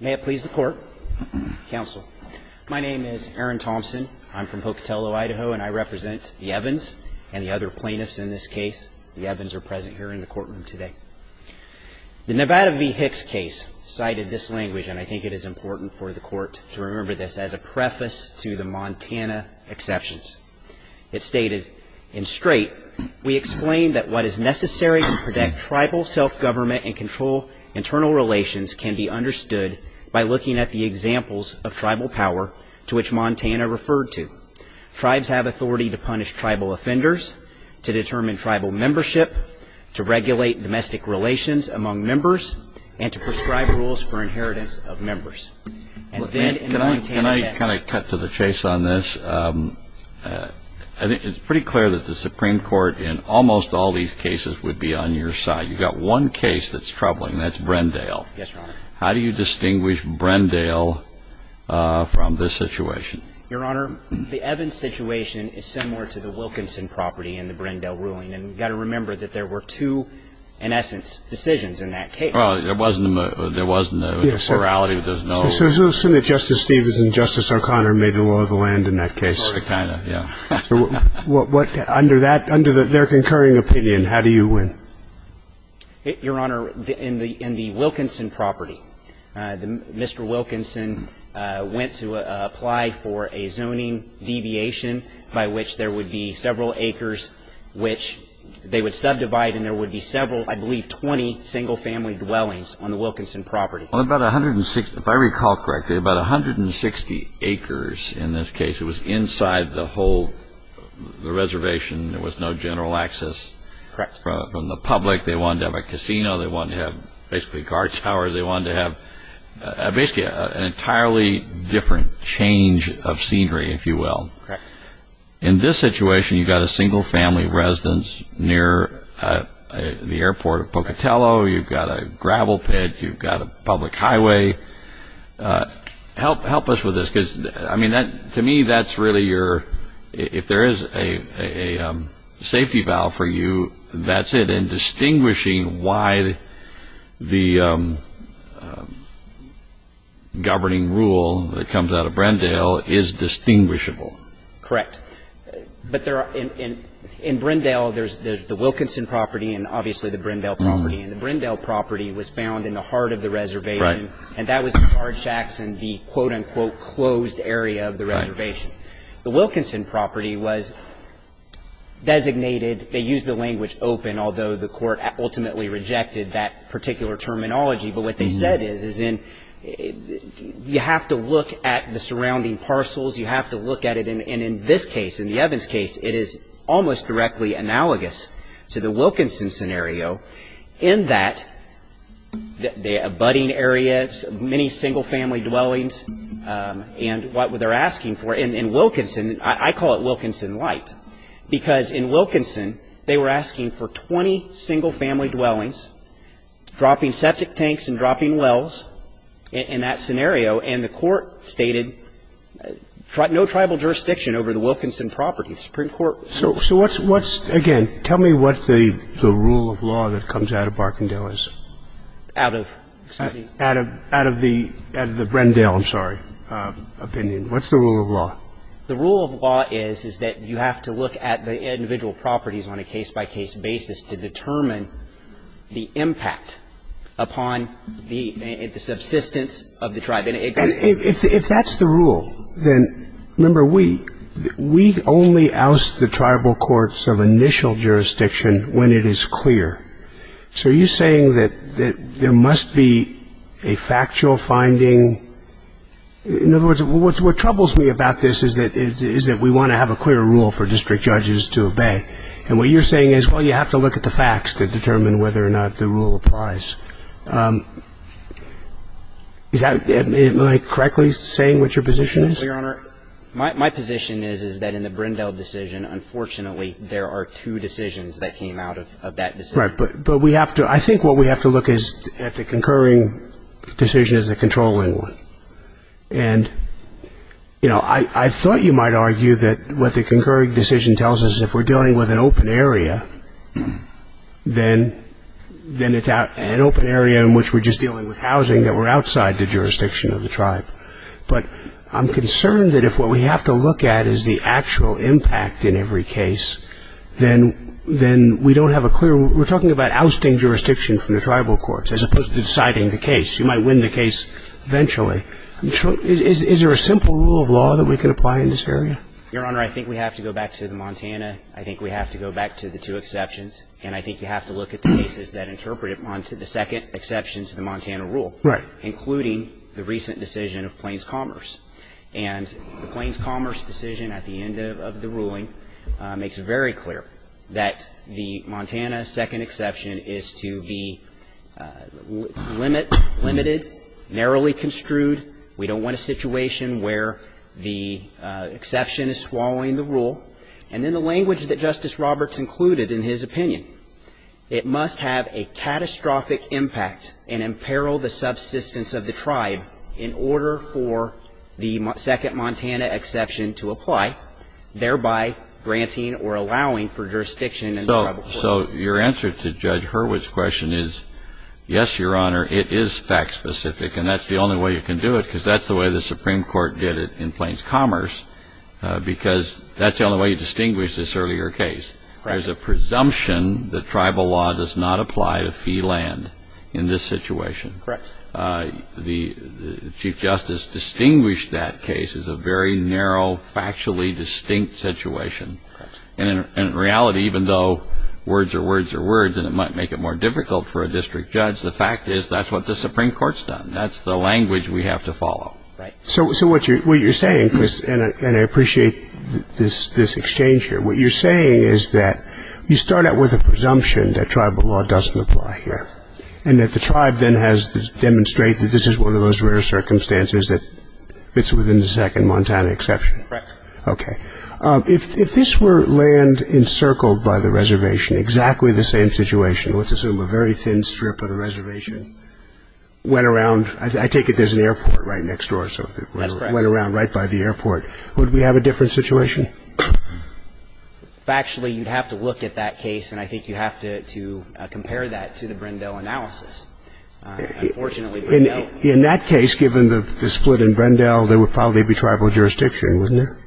May it please the court, counsel. My name is Aaron Thompson. I'm from Pocatello, Idaho, and I represent the Evans and the other plaintiffs in this case. The Evans are present here in the courtroom today. The Nevada v. Hicks case cited this language, and I think it is important for the court to remember this, as a preface to the Montana exceptions. It stated, in straight, we explain that what is necessary to protect tribal self-government and control internal relations can be understood by looking at the examples of tribal power to which Montana referred to. Tribes have authority to punish tribal offenders, to determine tribal membership, to regulate domestic relations among members, and to prescribe rules for inheritance of members. And then in the Montana method. Can I kind of cut to the chase on this? I think it's pretty clear that the Supreme Court, in almost all these cases, would be on your side. You've got one case that's troubling. That's Brendale. Yes, Your Honor. How do you distinguish Brendale from this situation? Your Honor, the Evans situation is similar to the Wilkinson property in the Brendale ruling. And you've got to remember that there were two, in essence, decisions in that case. Well, there wasn't a morality that there was no. So it's a little certain that Justice Stevens and Justice O'Connor made the law of the land in that case. Sort of, kind of, yeah. Under that, under their concurring opinion, how do you win? Your Honor, in the Wilkinson property, Mr. Wilkinson went to apply for a zoning deviation by which there would be several acres, which they would subdivide, and there would be several, I believe, 20 single family dwellings on the Wilkinson property. On about 160, if I recall correctly, about 160 acres in this case. It was inside the whole reservation. There was no general access from the public. They wanted to have a casino. They wanted to have, basically, guard towers. They wanted to have, basically, an entirely different change of scenery, if you will. In this situation, you've got a single family residence near the airport at Pocatello. You've got a gravel pit. You've got a public highway. Help us with this, because, I mean, to me, that's really your, if there is a safety valve for you, that's it, and distinguishing why the governing rule that comes out of Brindale is distinguishable. Correct. But in Brindale, there's the Wilkinson property and, obviously, the Brindale property. And the Brindale property was found in the heart of the reservation. And that was the card shacks and the, quote unquote, closed area of the reservation. The Wilkinson property was designated. They used the language open, although the court ultimately rejected that particular terminology. But what they said is, you have to look at the surrounding parcels. You have to look at it. And in this case, in the Evans case, it is almost directly analogous to the Wilkinson scenario in that the abutting areas, many single family dwellings, and what they're asking for. And in Wilkinson, I call it Wilkinson light, because in Wilkinson, they were asking for 20 single family dwellings, dropping septic tanks and dropping wells in that scenario. And the court stated, no tribal jurisdiction over the Wilkinson property. Supreme Court. So what's, again, tell me what the rule of law that comes out of Barkindale is. Out of, excuse me. Out of the Brindale, I'm sorry, opinion. What's the rule of law? The rule of law is that you have to look at the individual properties on a case-by-case basis to determine the impact upon the subsistence of the tribe. And if that's the rule, then remember, we only oust the tribal courts of initial jurisdiction when it is clear. So are you saying that there must be a factual finding? In other words, what troubles me about this is that we want to have a clear rule for district judges to obey. And what you're saying is, well, you have to look at the facts to determine whether or not the rule applies. Is that, am I correctly saying what your position is? Your Honor, my position is that in the Brindale decision, unfortunately, there are two decisions that came out of that decision. But we have to. I think what we have to look at the concurring decision is the controlling one. And I thought you might argue that what the concurring decision tells us, if we're dealing with an open area, then it's an open area in which we're just dealing with housing that were outside the jurisdiction of the tribe. But I'm concerned that if what we have to look at is the actual impact in every case, then we don't have a clear rule. We're talking about ousting jurisdiction from the tribal courts as opposed to deciding the case. You might win the case eventually. Is there a simple rule of law that we can apply in this area? Your Honor, I think we have to go back to the Montana. I think we have to go back to the two exceptions. And I think you have to look at the cases that interpret it onto the second exception to the Montana rule, including the recent decision of Plains Commerce. And the Plains Commerce decision at the end of the ruling makes it very clear that the Montana second exception is to be limited, narrowly construed. We don't want a situation where the exception is swallowing the rule. And then the language that Justice Roberts included in his opinion, it must have a catastrophic impact and imperil the subsistence of the tribe in order for the second Montana exception to apply, thereby granting or allowing for jurisdiction in the tribal court. So your answer to Judge Hurwitz's question is, yes, Your Honor, it is fact specific. And that's the only way you can do it, because that's the way the Supreme Court did it in Plains Commerce, because that's the only way you distinguish this earlier case. There's a presumption that tribal law does not apply to fee land in this situation. The Chief Justice distinguished that case as a very narrow, factually distinct situation. And in reality, even though words are words are words, and it might make it more difficult for a district judge, the fact is that's what the Supreme Court's done. That's the language we have to follow. So what you're saying, and I appreciate this exchange here, what you're saying is that you start out with a presumption that tribal law doesn't apply here, and that the tribe then has to demonstrate that this is one of those rare circumstances that fits within the second Montana exception? Correct. OK. If this were land encircled by the reservation, exactly the same situation, let's assume a very thin strip of the reservation, went around, I take it there's an airport right next door, so it went around right by the airport, would we have a different situation? Factually, you'd have to look at that case, and I think you have to compare that to the Brendel analysis. Unfortunately, Brendel. In that case, given the split in Brendel, there would probably be tribal jurisdiction, wouldn't there?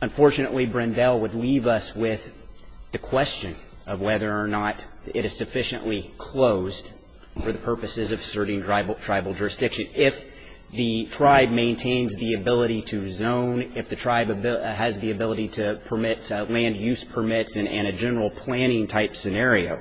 Unfortunately, Brendel would leave us with the question of whether or not it is sufficiently closed for the purposes of asserting tribal jurisdiction. If the tribe maintains the ability to zone, if the tribe has the ability to permit land use permits and a general planning type scenario,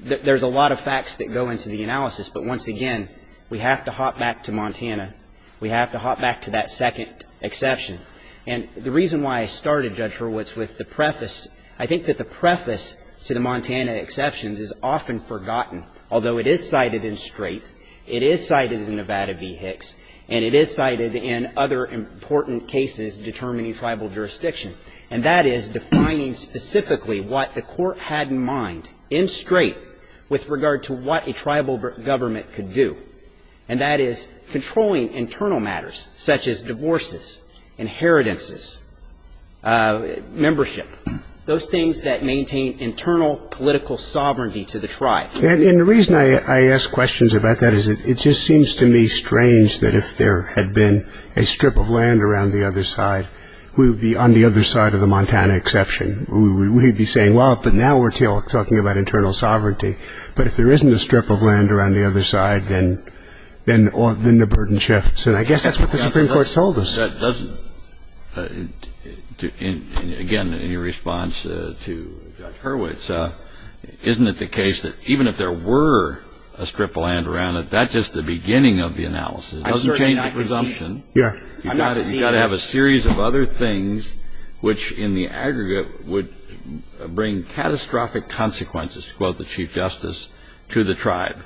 there's a lot of facts that go into the analysis. But once again, we have to hop back to Montana. We have to hop back to that second exception. And the reason why I started, Judge Hurwitz, with the preface, I think that the preface to the Montana exceptions is often forgotten, although it is cited in Strait, it is cited in Nevada v. Hicks, and it is cited in other important cases determining tribal jurisdiction. And that is defining specifically what the court had in mind in Strait with regard to what a tribal government could do. And that is controlling internal matters, such as divorces, inheritances, membership, those things that maintain internal political sovereignty to the tribe. And the reason I ask questions about that is it just seems to me strange that if there had been a strip of land around the other side, we would be on the other side of the Montana exception. We would be saying, well, but now we're talking about internal sovereignty. But if there isn't a strip of land around the other side, then the burden shifts. And I guess that's what the Supreme Court told us. That doesn't, again, in your response to Judge Hurwitz, isn't it the case that even if there were a strip of land around it, that's just the beginning of the analysis? It doesn't change the presumption. Yeah. You've got to have a series of other things, which in the aggregate would bring catastrophic consequences, to quote the Chief Justice, to the tribe.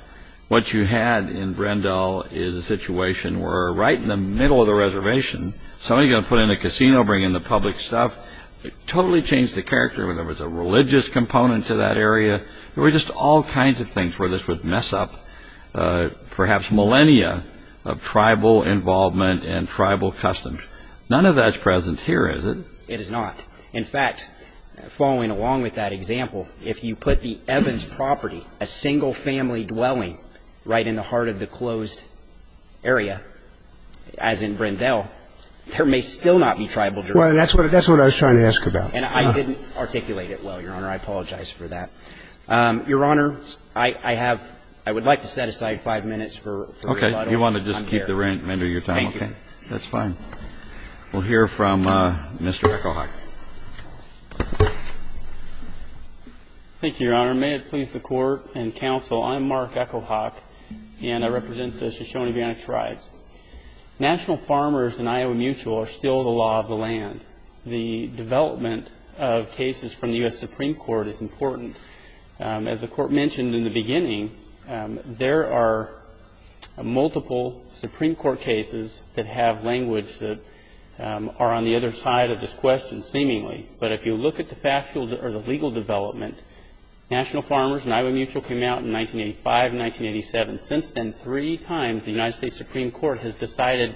What you had in Brendel is a situation where right in the middle of the reservation, somebody going to put in a casino, bring in the public stuff, it totally changed the character. And there was a religious component to that area. There were just all kinds of things where this would mess up perhaps millennia of tribal involvement and tribal customs. None of that's present here, is it? It is not. In fact, following along with that example, if you put the Evans property, a single family dwelling, right in the heart of the closed area, as in Brendel, there may still not be tribal jurisdiction. Well, that's what I was trying to ask about. And I didn't articulate it well, Your Honor. I apologize for that. Your Honor, I would like to set aside five minutes for rebuttal. OK. You want to just keep the remainder of your time? Thank you. That's fine. We'll hear from Mr. Echohawk. Thank you, Your Honor. May it please the Court and counsel, I'm Mark Echohawk. And I represent the Shoshone-Bionic Tribes. National farmers and Iowa Mutual are still the law of the land. The development of cases from the US Supreme Court is important. As the Court mentioned in the beginning, there are multiple Supreme Court cases that have language that are on the other side of this question, seemingly. But if you look at the legal development, National Farmers and Iowa Mutual came out in 1985 and 1987. Since then, three times, the United States Supreme Court has decided,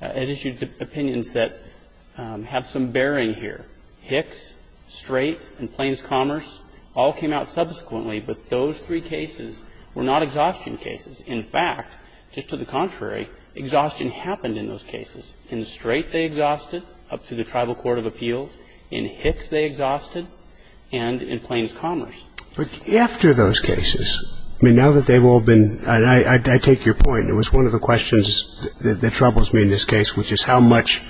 has issued opinions that have some bearing here. Hicks, Straight, and Plains Commerce all came out subsequently. But those three cases were not exhaustion cases. In fact, just to the contrary, exhaustion happened in those cases. In Straight, they exhausted up to the Tribal Court of Appeals. In Hicks, they exhausted. And in Plains Commerce. After those cases, I mean, now that they've all been, and I take your point. It was one of the questions that troubles me in this case, which is how much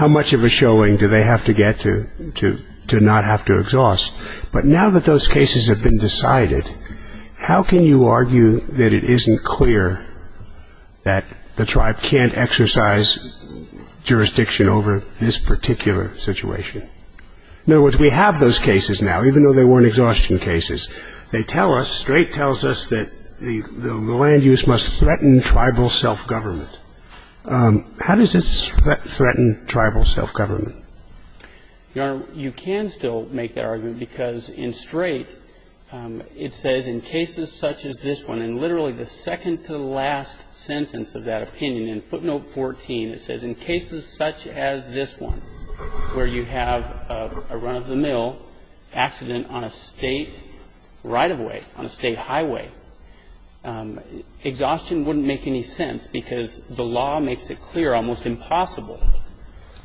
of a showing do they have to get to not have to exhaust? But now that those cases have been decided, how can you argue that it isn't clear that the tribe can't exercise jurisdiction over this particular situation? In other words, we have those cases now, even though they weren't exhaustion cases. They tell us, Straight tells us, that the land use must threaten tribal self-government. How does this threaten tribal self-government? Your Honor, you can still make that argument, because in Straight, it says, in cases such as this one, and literally the second to the last sentence of that opinion, in footnote 14, it says, in cases such as this one, where you have a run-of-the-mill accident on a state right-of-way, on a state highway, exhaustion wouldn't make any sense, because the law makes it clear, almost impossible,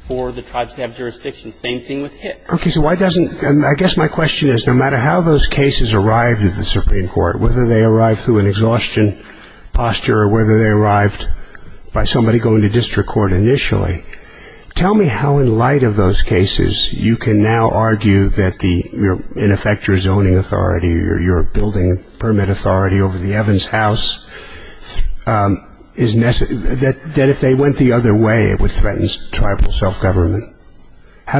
for the tribes to have jurisdiction. Same thing with Hicks. OK, so why doesn't, and I guess my question is, no matter how those cases arrived at the Supreme Court, whether they arrived through an exhaustion posture, or whether they arrived by somebody going to district court initially, tell me how, in light of those cases, you can now argue that the, in effect, your zoning authority, or your building permit authority over the Evans House, that if they went the other way, it would threaten tribal self-government? How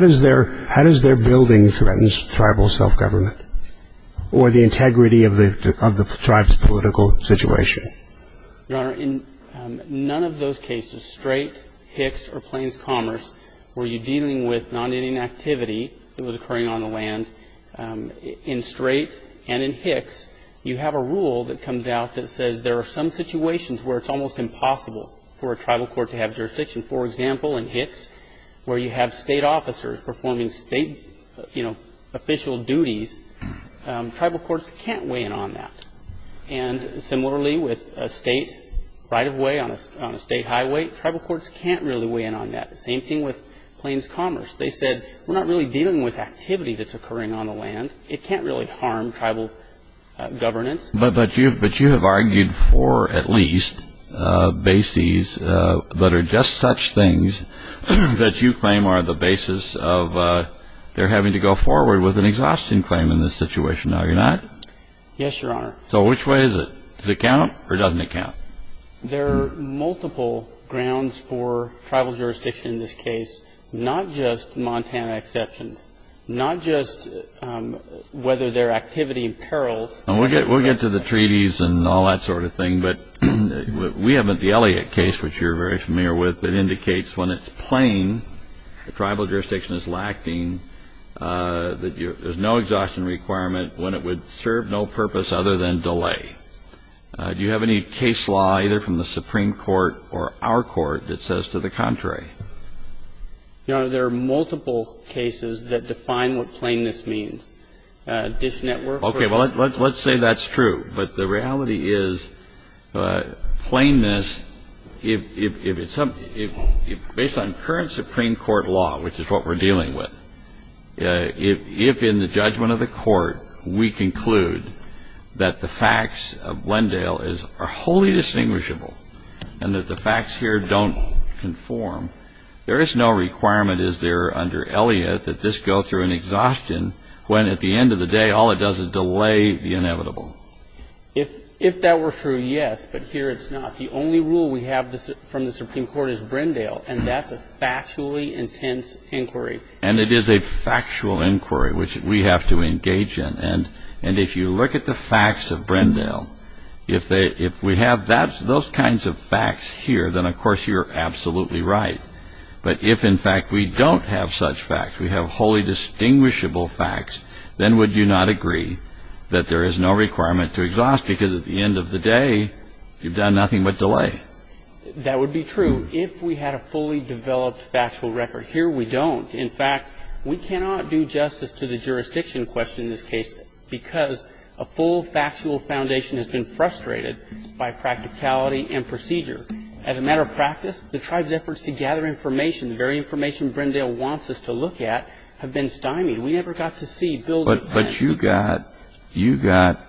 does their building threaten tribal self-government, or the integrity of the tribe's political situation? Your Honor, in none of those cases, Straight, Hicks, or Plains Commerce, were you dealing with non-Indian activity that was occurring on the land. In Straight and in Hicks, you have a rule that comes out that says there are some situations where it's almost impossible for a tribal court to have jurisdiction. For example, in Hicks, where you have state officers performing state official duties, tribal courts can't weigh in on that. And similarly, with a state right-of-way on a state highway, tribal courts can't really weigh in on that. The same thing with Plains Commerce. They said, we're not really dealing with activity that's occurring on the land. It can't really harm tribal governance. But you have argued for, at least, bases that are just such things that you claim are the basis of their having to go forward with an exhaustion claim in this situation, now you're not? Yes, Your Honor. So which way is it? Does it count, or doesn't it count? There are multiple grounds for tribal jurisdiction in this case, not just Montana exceptions, not just whether their activity imperils. And we'll get to the treaties and all that sort of thing. But we have the Elliott case, which you're very familiar with, that indicates when it's plain, the tribal jurisdiction is lacking, that there's no exhaustion requirement when it would serve no purpose other than delay. Do you have any case law, either from the Supreme Court or our court, that says to the contrary? Your Honor, there are multiple cases that define what plainness means. Dish network. OK, well, let's say that's true. But the reality is, plainness, based on current Supreme Court law, which is what we're dealing with, if in the judgment of the court we conclude that the facts of Glendale are wholly distinguishable, and that the facts here don't conform, there is no requirement, is there, under Elliott, that this go through an exhaustion when, at the end of the day, all it does is delay the inevitable. If that were true, yes. But here, it's not. The only rule we have from the Supreme Court is Brindale. And that's a factually intense inquiry. And it is a factual inquiry, which we have to engage in. And if you look at the facts of Brindale, if we have those kinds of facts here, then, of course, you're absolutely right. But if, in fact, we don't have such facts, we have wholly distinguishable facts, then would you not agree that there is no requirement to exhaust? Because at the end of the day, you've done nothing but delay. That would be true if we had a fully developed factual record. Here, we don't. In fact, we cannot do justice to the jurisdiction question in this case, because a full factual foundation has been frustrated by practicality and procedure. As a matter of practice, the tribe's efforts to gather information, the very information Brindale wants us to look at, have been stymied. We never got to see building plan. But you got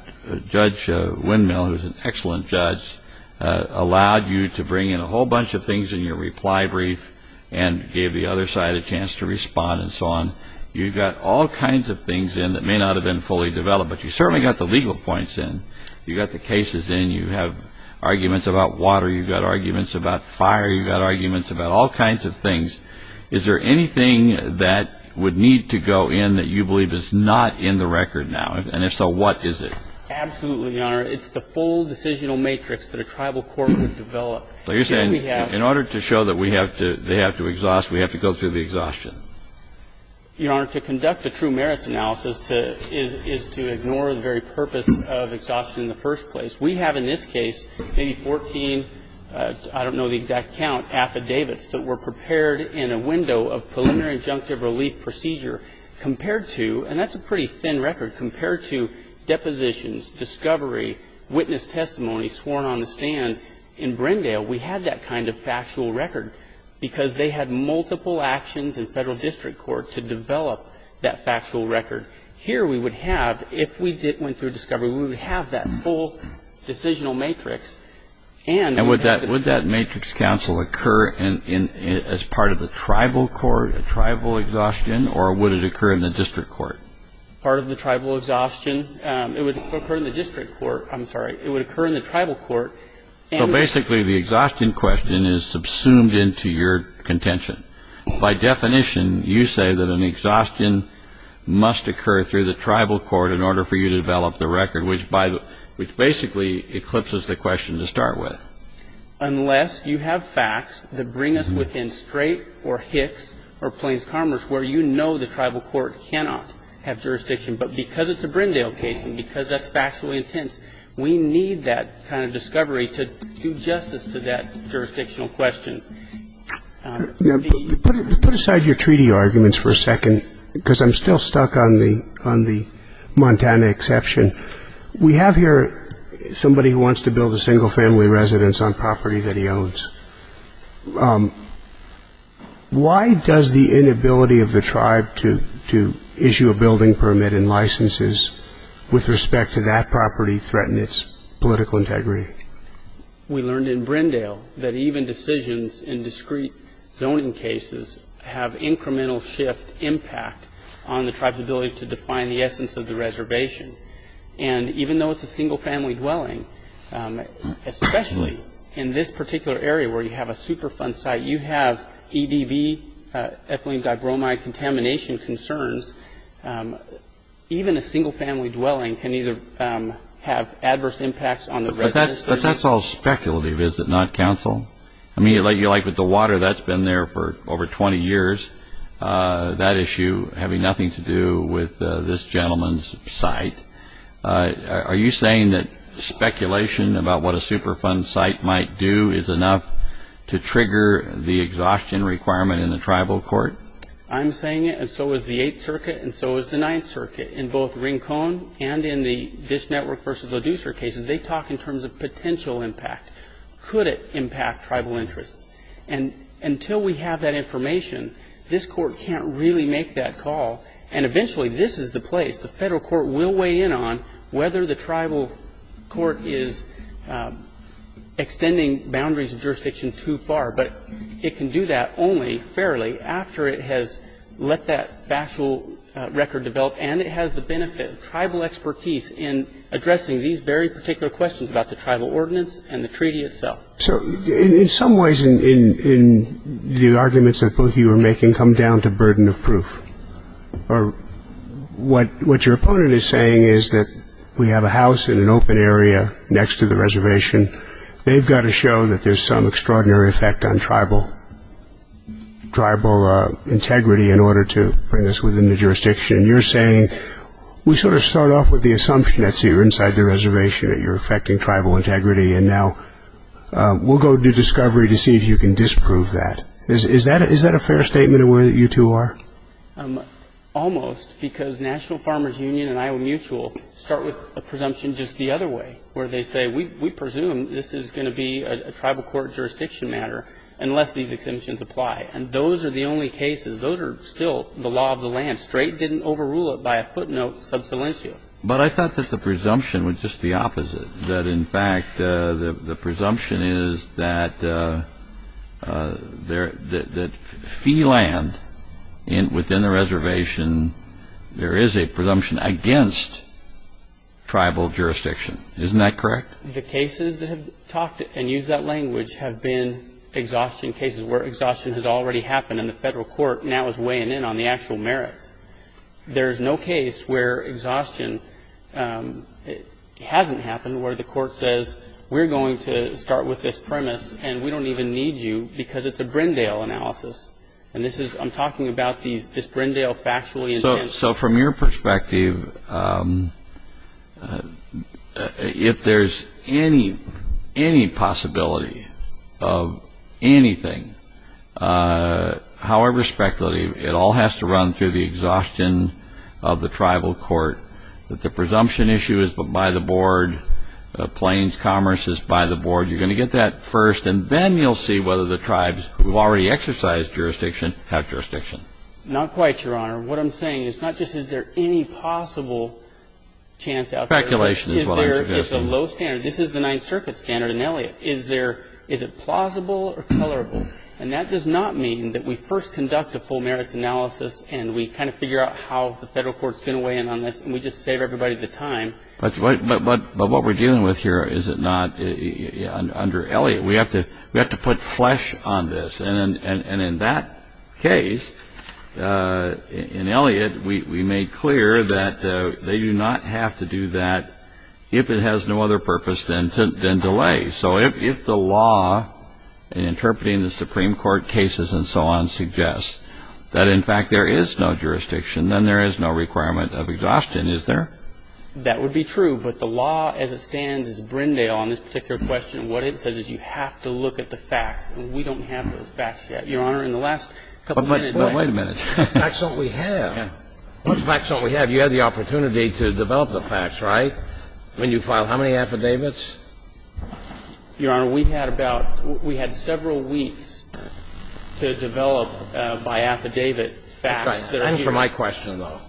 Judge Windmill, who's an excellent judge, allowed you to bring in a whole bunch of things in your reply brief and gave the other side a chance to respond and so on. You got all kinds of things in that may not have been fully developed. But you certainly got the legal points in. You got the cases in. You have arguments about water. You've got arguments about fire. You've got arguments about all kinds of things. Is there anything that would need to go in that you believe is not in the record now? And if so, what is it? Absolutely, Your Honor. It's the full decisional matrix that a tribal court would develop. So you're saying, in order to show that they have to exhaust, we have to go through the exhaustion? Your Honor, to conduct a true merits analysis is to ignore the very purpose of exhaustion in the first place. We have, in this case, maybe 14, I don't know the exact count, affidavits that were prepared in a window of preliminary injunctive relief procedure compared to, and that's a pretty thin record, compared to depositions, discovery, witness testimony sworn on the stand in Brindale. We had that kind of factual record because they had multiple actions in federal district court to develop that factual record. Here we would have, if we went through discovery, we would have that full decisional matrix. And would that matrix counsel occur as part of the tribal court, a tribal exhaustion, or would it occur in the district court? Part of the tribal exhaustion. It would occur in the district court. I'm sorry. It would occur in the tribal court. So basically, the exhaustion question is subsumed into your contention. By definition, you say that an exhaustion must occur through the tribal court in order for you to develop the record, which basically eclipses the question to start with. Unless you have facts that bring us within Strait or Hicks or Plains Commerce, where you know the tribal court cannot have jurisdiction. But because it's a Brindale case, and because that's factually intense, we need that kind of discovery to do justice to that jurisdictional question. Put aside your treaty arguments for a second, because I'm still stuck on the Montana exception, we have here somebody who wants to build a single family residence on property that he owns. Why does the inability of the tribe to issue a building permit and licenses with respect to that property threaten its political integrity? We learned in Brindale that even decisions in discrete zoning cases have incremental shift impact on the tribe's ability to define the essence of the reservation. And even though it's a single family dwelling, especially in this particular area where you have a Superfund site, you have EDV, ethylene digromide contamination concerns. Even a single family dwelling can either have adverse impacts on the residence. But that's all speculative, is it not, counsel? I mean, like with the water, that's been there for over 20 years. That issue having nothing to do with this gentleman's site. Are you saying that speculation about what a Superfund site might do is enough to trigger the exhaustion requirement in the tribal court? I'm saying it, and so is the Eighth Circuit, and so is the Ninth Circuit. In both Rincon and in the Dish Network versus Leducer cases, they talk in terms of potential impact. Could it impact tribal interests? And until we have that information, this court can't really make that call. And eventually, this is the place the federal court will weigh in on whether the tribal court is extending boundaries of jurisdiction too far. But it can do that only fairly after it has let that factual record develop, and it has the benefit of tribal expertise in addressing these very particular questions about the tribal ordinance and the treaty itself. So in some ways, the arguments that both of you are making come down to burden of proof. Or what your opponent is saying is that we have a house in an open area next to the reservation. They've got to show that there's some extraordinary effect on tribal integrity in order to bring this within the jurisdiction. And you're saying, we sort of start off with the assumption that you're inside the reservation, that you're affecting tribal integrity, and now we'll go do discovery to see if you can disprove that. Is that a fair statement of where you two are? Almost, because National Farmers Union and Iowa Mutual start with a presumption just the other way, where they say, we presume this is going to be a tribal court jurisdiction matter unless these exemptions apply. And those are the only cases. Those are still the law of the land. Strait didn't overrule it by a footnote sub silentio. But I thought that the presumption was just the opposite, that in fact, the presumption is that fee land within the reservation, there is a presumption against tribal jurisdiction. Isn't that correct? The cases that have talked and used that language have been exhaustion cases where exhaustion has already happened and the federal court now is weighing in on the actual merits. There's no case where exhaustion hasn't happened, where the court says, we're going to start with this premise, and we don't even need you because it's a Brindale analysis. And I'm talking about this Brindale factually intent. So from your perspective, if there's any possibility of anything, however speculative, it all has to run through the exhaustion of the tribal court, that the presumption issue is by the board, Plains Commerce is by the board. You're going to get that first. And then you'll see whether the tribes who've already exercised jurisdiction have jurisdiction. Not quite, Your Honor. What I'm saying is not just is there any possible chance out there. Speculation is what I'm suggesting. It's a low standard. This is the Ninth Circuit standard in Elliott. Is it plausible or colorable? And that does not mean that we first conduct a full merits analysis, and we kind of figure out how the federal court's going to weigh in on this, and we just save everybody the time. But what we're dealing with here is it not under Elliott. We have to put flesh on this. And in that case, in Elliott, we made clear that they do not have to do that if it has no other purpose than delay. So if the law in interpreting the Supreme Court cases and so on suggests that, in fact, there is no jurisdiction, then there is no requirement of exhaustion. Is there? That would be true. But the law as it stands is Brindale on this particular question. What it says is you have to look at the facts. And we don't have those facts yet, Your Honor. In the last couple of minutes, I have. Well, wait a minute. What facts don't we have? What facts don't we have? You had the opportunity to develop the facts, right? When you file how many affidavits? Your Honor, we had about we had several weeks to develop by affidavit facts that are here. And for my question, though.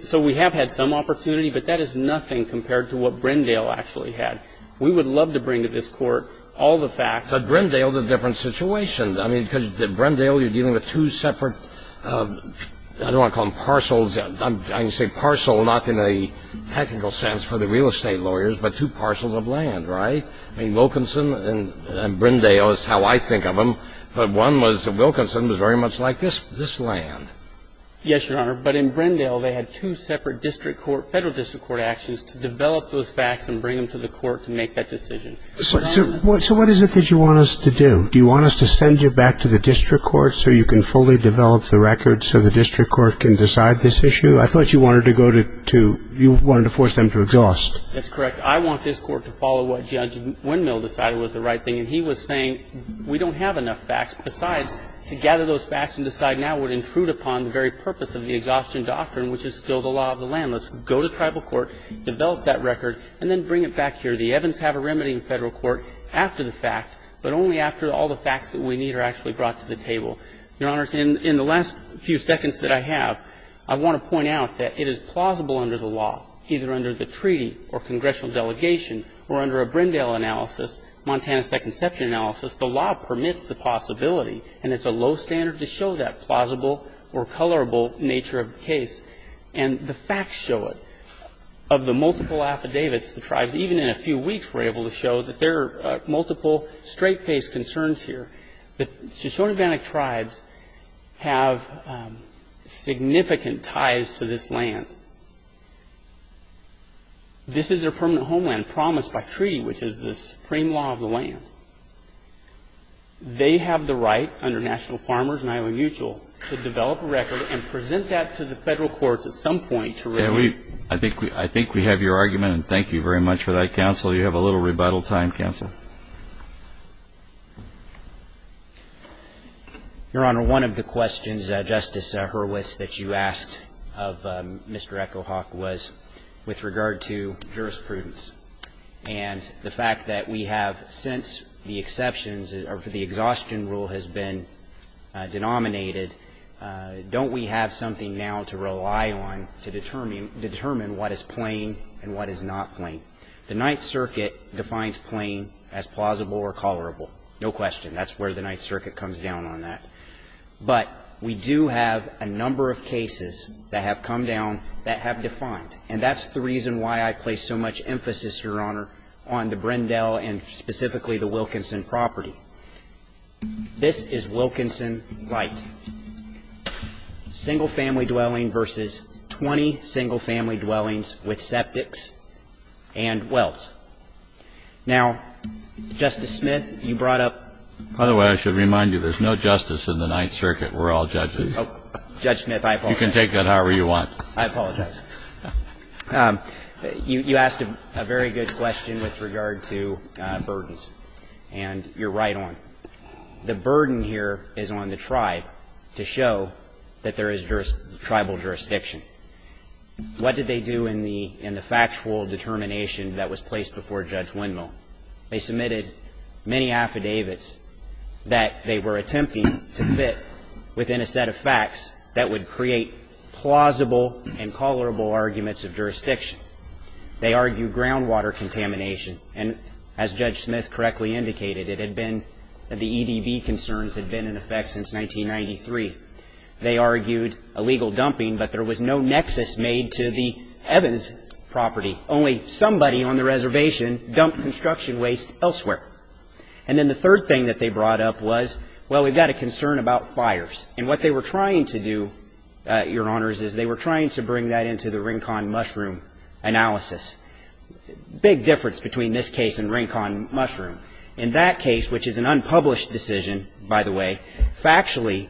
So we have had some opportunity, but that is nothing compared to what Brindale actually had. We would love to bring to this Court all the facts. But Brindale is a different situation. I mean, because Brindale, you're dealing with two separate, I don't want to call them parcels. I can say parcel, not in a technical sense for the real estate lawyers, but two parcels of land, right? I mean, Wilkinson and Brindale is how I think of them. But Wilkinson was very much like this land. Yes, Your Honor. But in Brindale, they had two separate district court, federal district court actions to develop those facts and bring them to the court to make that decision. So what is it that you want us to do? Do you want us to send you back to the district court so you can fully develop the records so the district court can decide this issue? I thought you wanted to go to, you wanted to force them to exhaust. That's correct. I want this Court to follow what Judge Windmill decided was the right thing. And he was saying, we don't have enough facts. Besides, to gather those facts and decide now would intrude upon the very purpose of the exhaustion doctrine, which is still the law of the landless. Go to tribal court, develop that record, and then bring it back here. The Evans have a remedy in federal court after the fact, but only after all the facts that we need are actually brought to the table. Your Honors, in the last few seconds that I have, I want to point out that it is plausible under the law, either under the treaty or congressional delegation, or under a Brindale analysis, Montana Second Ception analysis, the law permits the possibility. And it's a low standard to show that plausible or colorable nature of the case. And the facts show it. Of the multiple affidavits, the tribes, even in a few weeks, were able to show that there are multiple straight-based concerns here. The Shoshone-Bannock tribes have significant ties to this land. This is their permanent homeland, promised by treaty, which is the supreme law of the land. They have the right, under National Farmers and Iowa Mutual, to develop a record and present that to the federal courts at some point to review. I think we have your argument, and thank you very much for that, counsel. You have a little rebuttal time, counsel. Your Honor, one of the questions, Justice Hurwitz, that you asked of Mr. EchoHawk was with regard to jurisprudence. And the fact that we have, since the exceptions or the exhaustion rule has been denominated, don't we have something now to rely on to determine what is plain and what is not plain? The Ninth Circuit defines plain as plausible or colorable. No question. That's where the Ninth Circuit comes down on that. But we do have a number of cases that have come down that have defined. And that's the reason why I place so much emphasis, Your Honor, on the Brindell and specifically the Wilkinson property. This is Wilkinson Light. Single-family dwelling versus 20 single-family dwellings with septics and wells. Now, Justice Smith, you brought up the other way. I should remind you there's no justice in the Ninth Circuit. We're all judges. Judge Smith, I apologize. You can take that however you want. I apologize. You asked a very good question with regard to burdens, and you're right on it. The burden here is on the tribe to show that there is tribal jurisdiction. What did they do in the factual determination that was placed before Judge Windmill? They submitted many affidavits that they were attempting to fit within a set of facts that would create plausible and colorable arguments of jurisdiction. They argued groundwater contamination. And as Judge Smith correctly indicated, it had been the EDB concerns had been in effect since 1993. They argued illegal dumping, but there was no nexus made to the Evans property. Only somebody on the reservation dumped construction waste elsewhere. And then the third thing that they brought up was, well, we've got a concern about fires. And what they were trying to do, Your Honors, is they were trying to bring that into the Rincon Mushroom analysis. Big difference between this case and Rincon Mushroom. In that case, which is an unpublished decision, by the way, factually,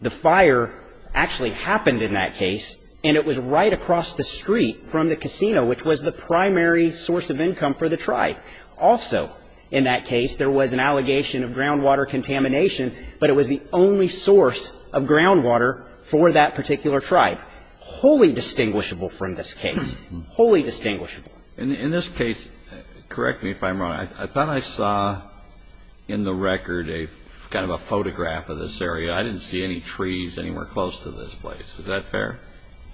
the fire actually happened in that case, and it was right across the street from the casino, which was the primary source of income for the tribe. Also, in that case, there was an allegation of groundwater contamination, but it was the only source of groundwater for that particular tribe. Wholly distinguishable from this case. Wholly distinguishable. In this case, correct me if I'm wrong. I thought I saw in the record a kind of a photograph of this area. I didn't see any trees anywhere close to this place. Is that fair?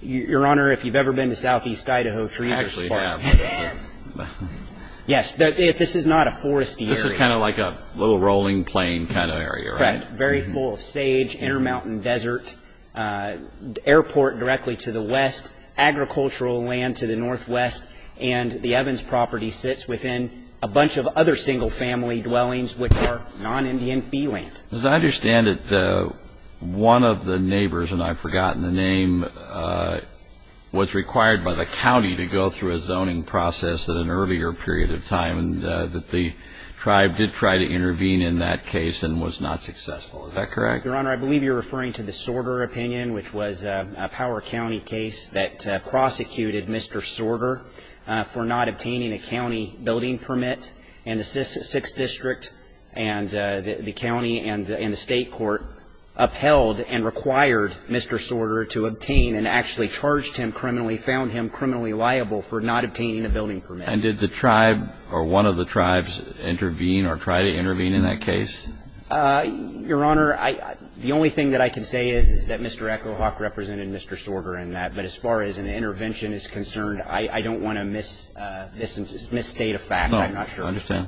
Your Honor, if you've ever been to southeast Idaho, trees are sparse. I actually have. Yes, this is not a foresty area. This is kind of like a little rolling plain kind of area, right? Correct. Very full of sage, intermountain desert, airport directly to the west, agricultural land to the northwest. And the Evans property sits within a bunch of other single-family dwellings, which are non-Indian fee land. As I understand it, one of the neighbors, and I've forgotten the name, was required by the county to go through a zoning process at an earlier period of time, and that the tribe did try to intervene in that case and was not successful. Is that correct? Your Honor, I believe you're referring to the Sorter opinion, which was a Power County case that prosecuted Mr. Sorter for not obtaining a county building permit. And the 6th District and the county and the state court upheld and required Mr. Sorter to obtain and actually charged him criminally, found him criminally liable for not obtaining a building permit. And did the tribe or one of the tribes intervene or try to intervene in that case? Your Honor, the only thing that I can say is that Mr. Echo Hawk represented Mr. Sorter in that. But as far as an intervention is concerned, I don't want to misstate a fact. I'm not sure. I understand.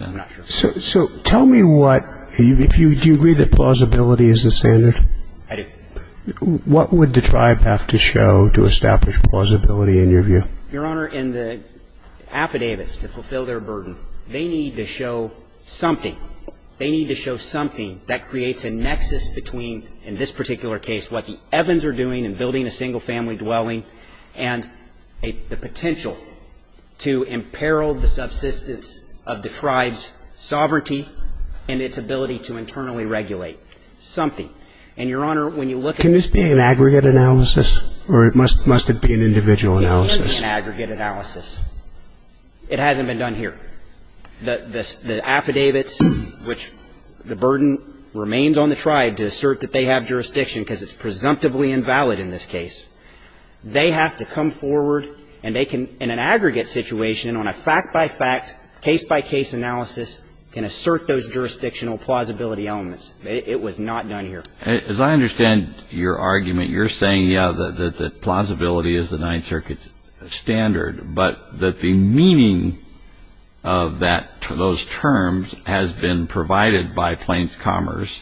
I'm not sure. So tell me what, do you agree that plausibility is the standard? I do. What would the tribe have to show to establish plausibility in your view? Your Honor, in the affidavits to fulfill their burden, they need to show something. They need to show something that creates a nexus between, in this particular case, what the Evans are doing in building a single family dwelling and the potential to imperil the subsistence of the tribe's sovereignty and its ability to internally regulate. Something. And, Your Honor, when you look at- Can this be an aggregate analysis or must it be an individual analysis? It can be an aggregate analysis. It hasn't been done here. The affidavits, which the burden remains on the tribe to assert that they have jurisdiction because it's presumptively invalid in this case, they have to come forward and they can, in an aggregate situation, on a fact-by-fact, case-by-case analysis, can assert those jurisdictional plausibility elements. It was not done here. As I understand your argument, you're saying, yeah, that plausibility is the only reason that those terms have been provided by Plains Commerce,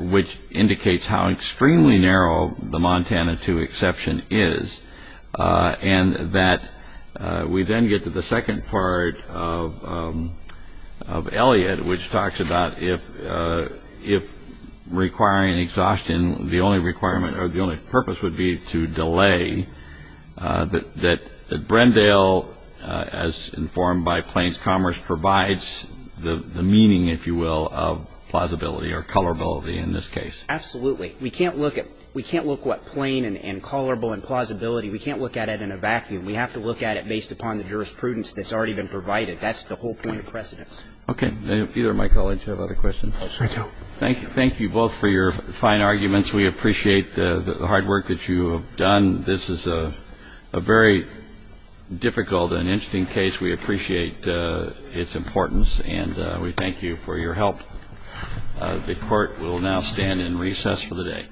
which indicates how extremely narrow the Montana II exception is, and that we then get to the second part of Elliott, which talks about if requiring exhaustion, the only requirement or the only purpose would be to delay that exception, and that's what you're saying, is that the fact-by-fact analysis informed by Plains Commerce provides the meaning, if you will, of plausibility or colorability in this case. Absolutely. We can't look at what plain and colorable and plausibility, we can't look at it in a vacuum. We have to look at it based upon the jurisprudence that's already been provided. That's the whole point of precedence. Okay. Either of my colleagues have other questions? Yes, I do. Thank you. Thank you both for your fine arguments. We appreciate the hard work that you have done. This is a very difficult and interesting case. We appreciate its importance, and we thank you for your help. The Court will now stand in recess for the day.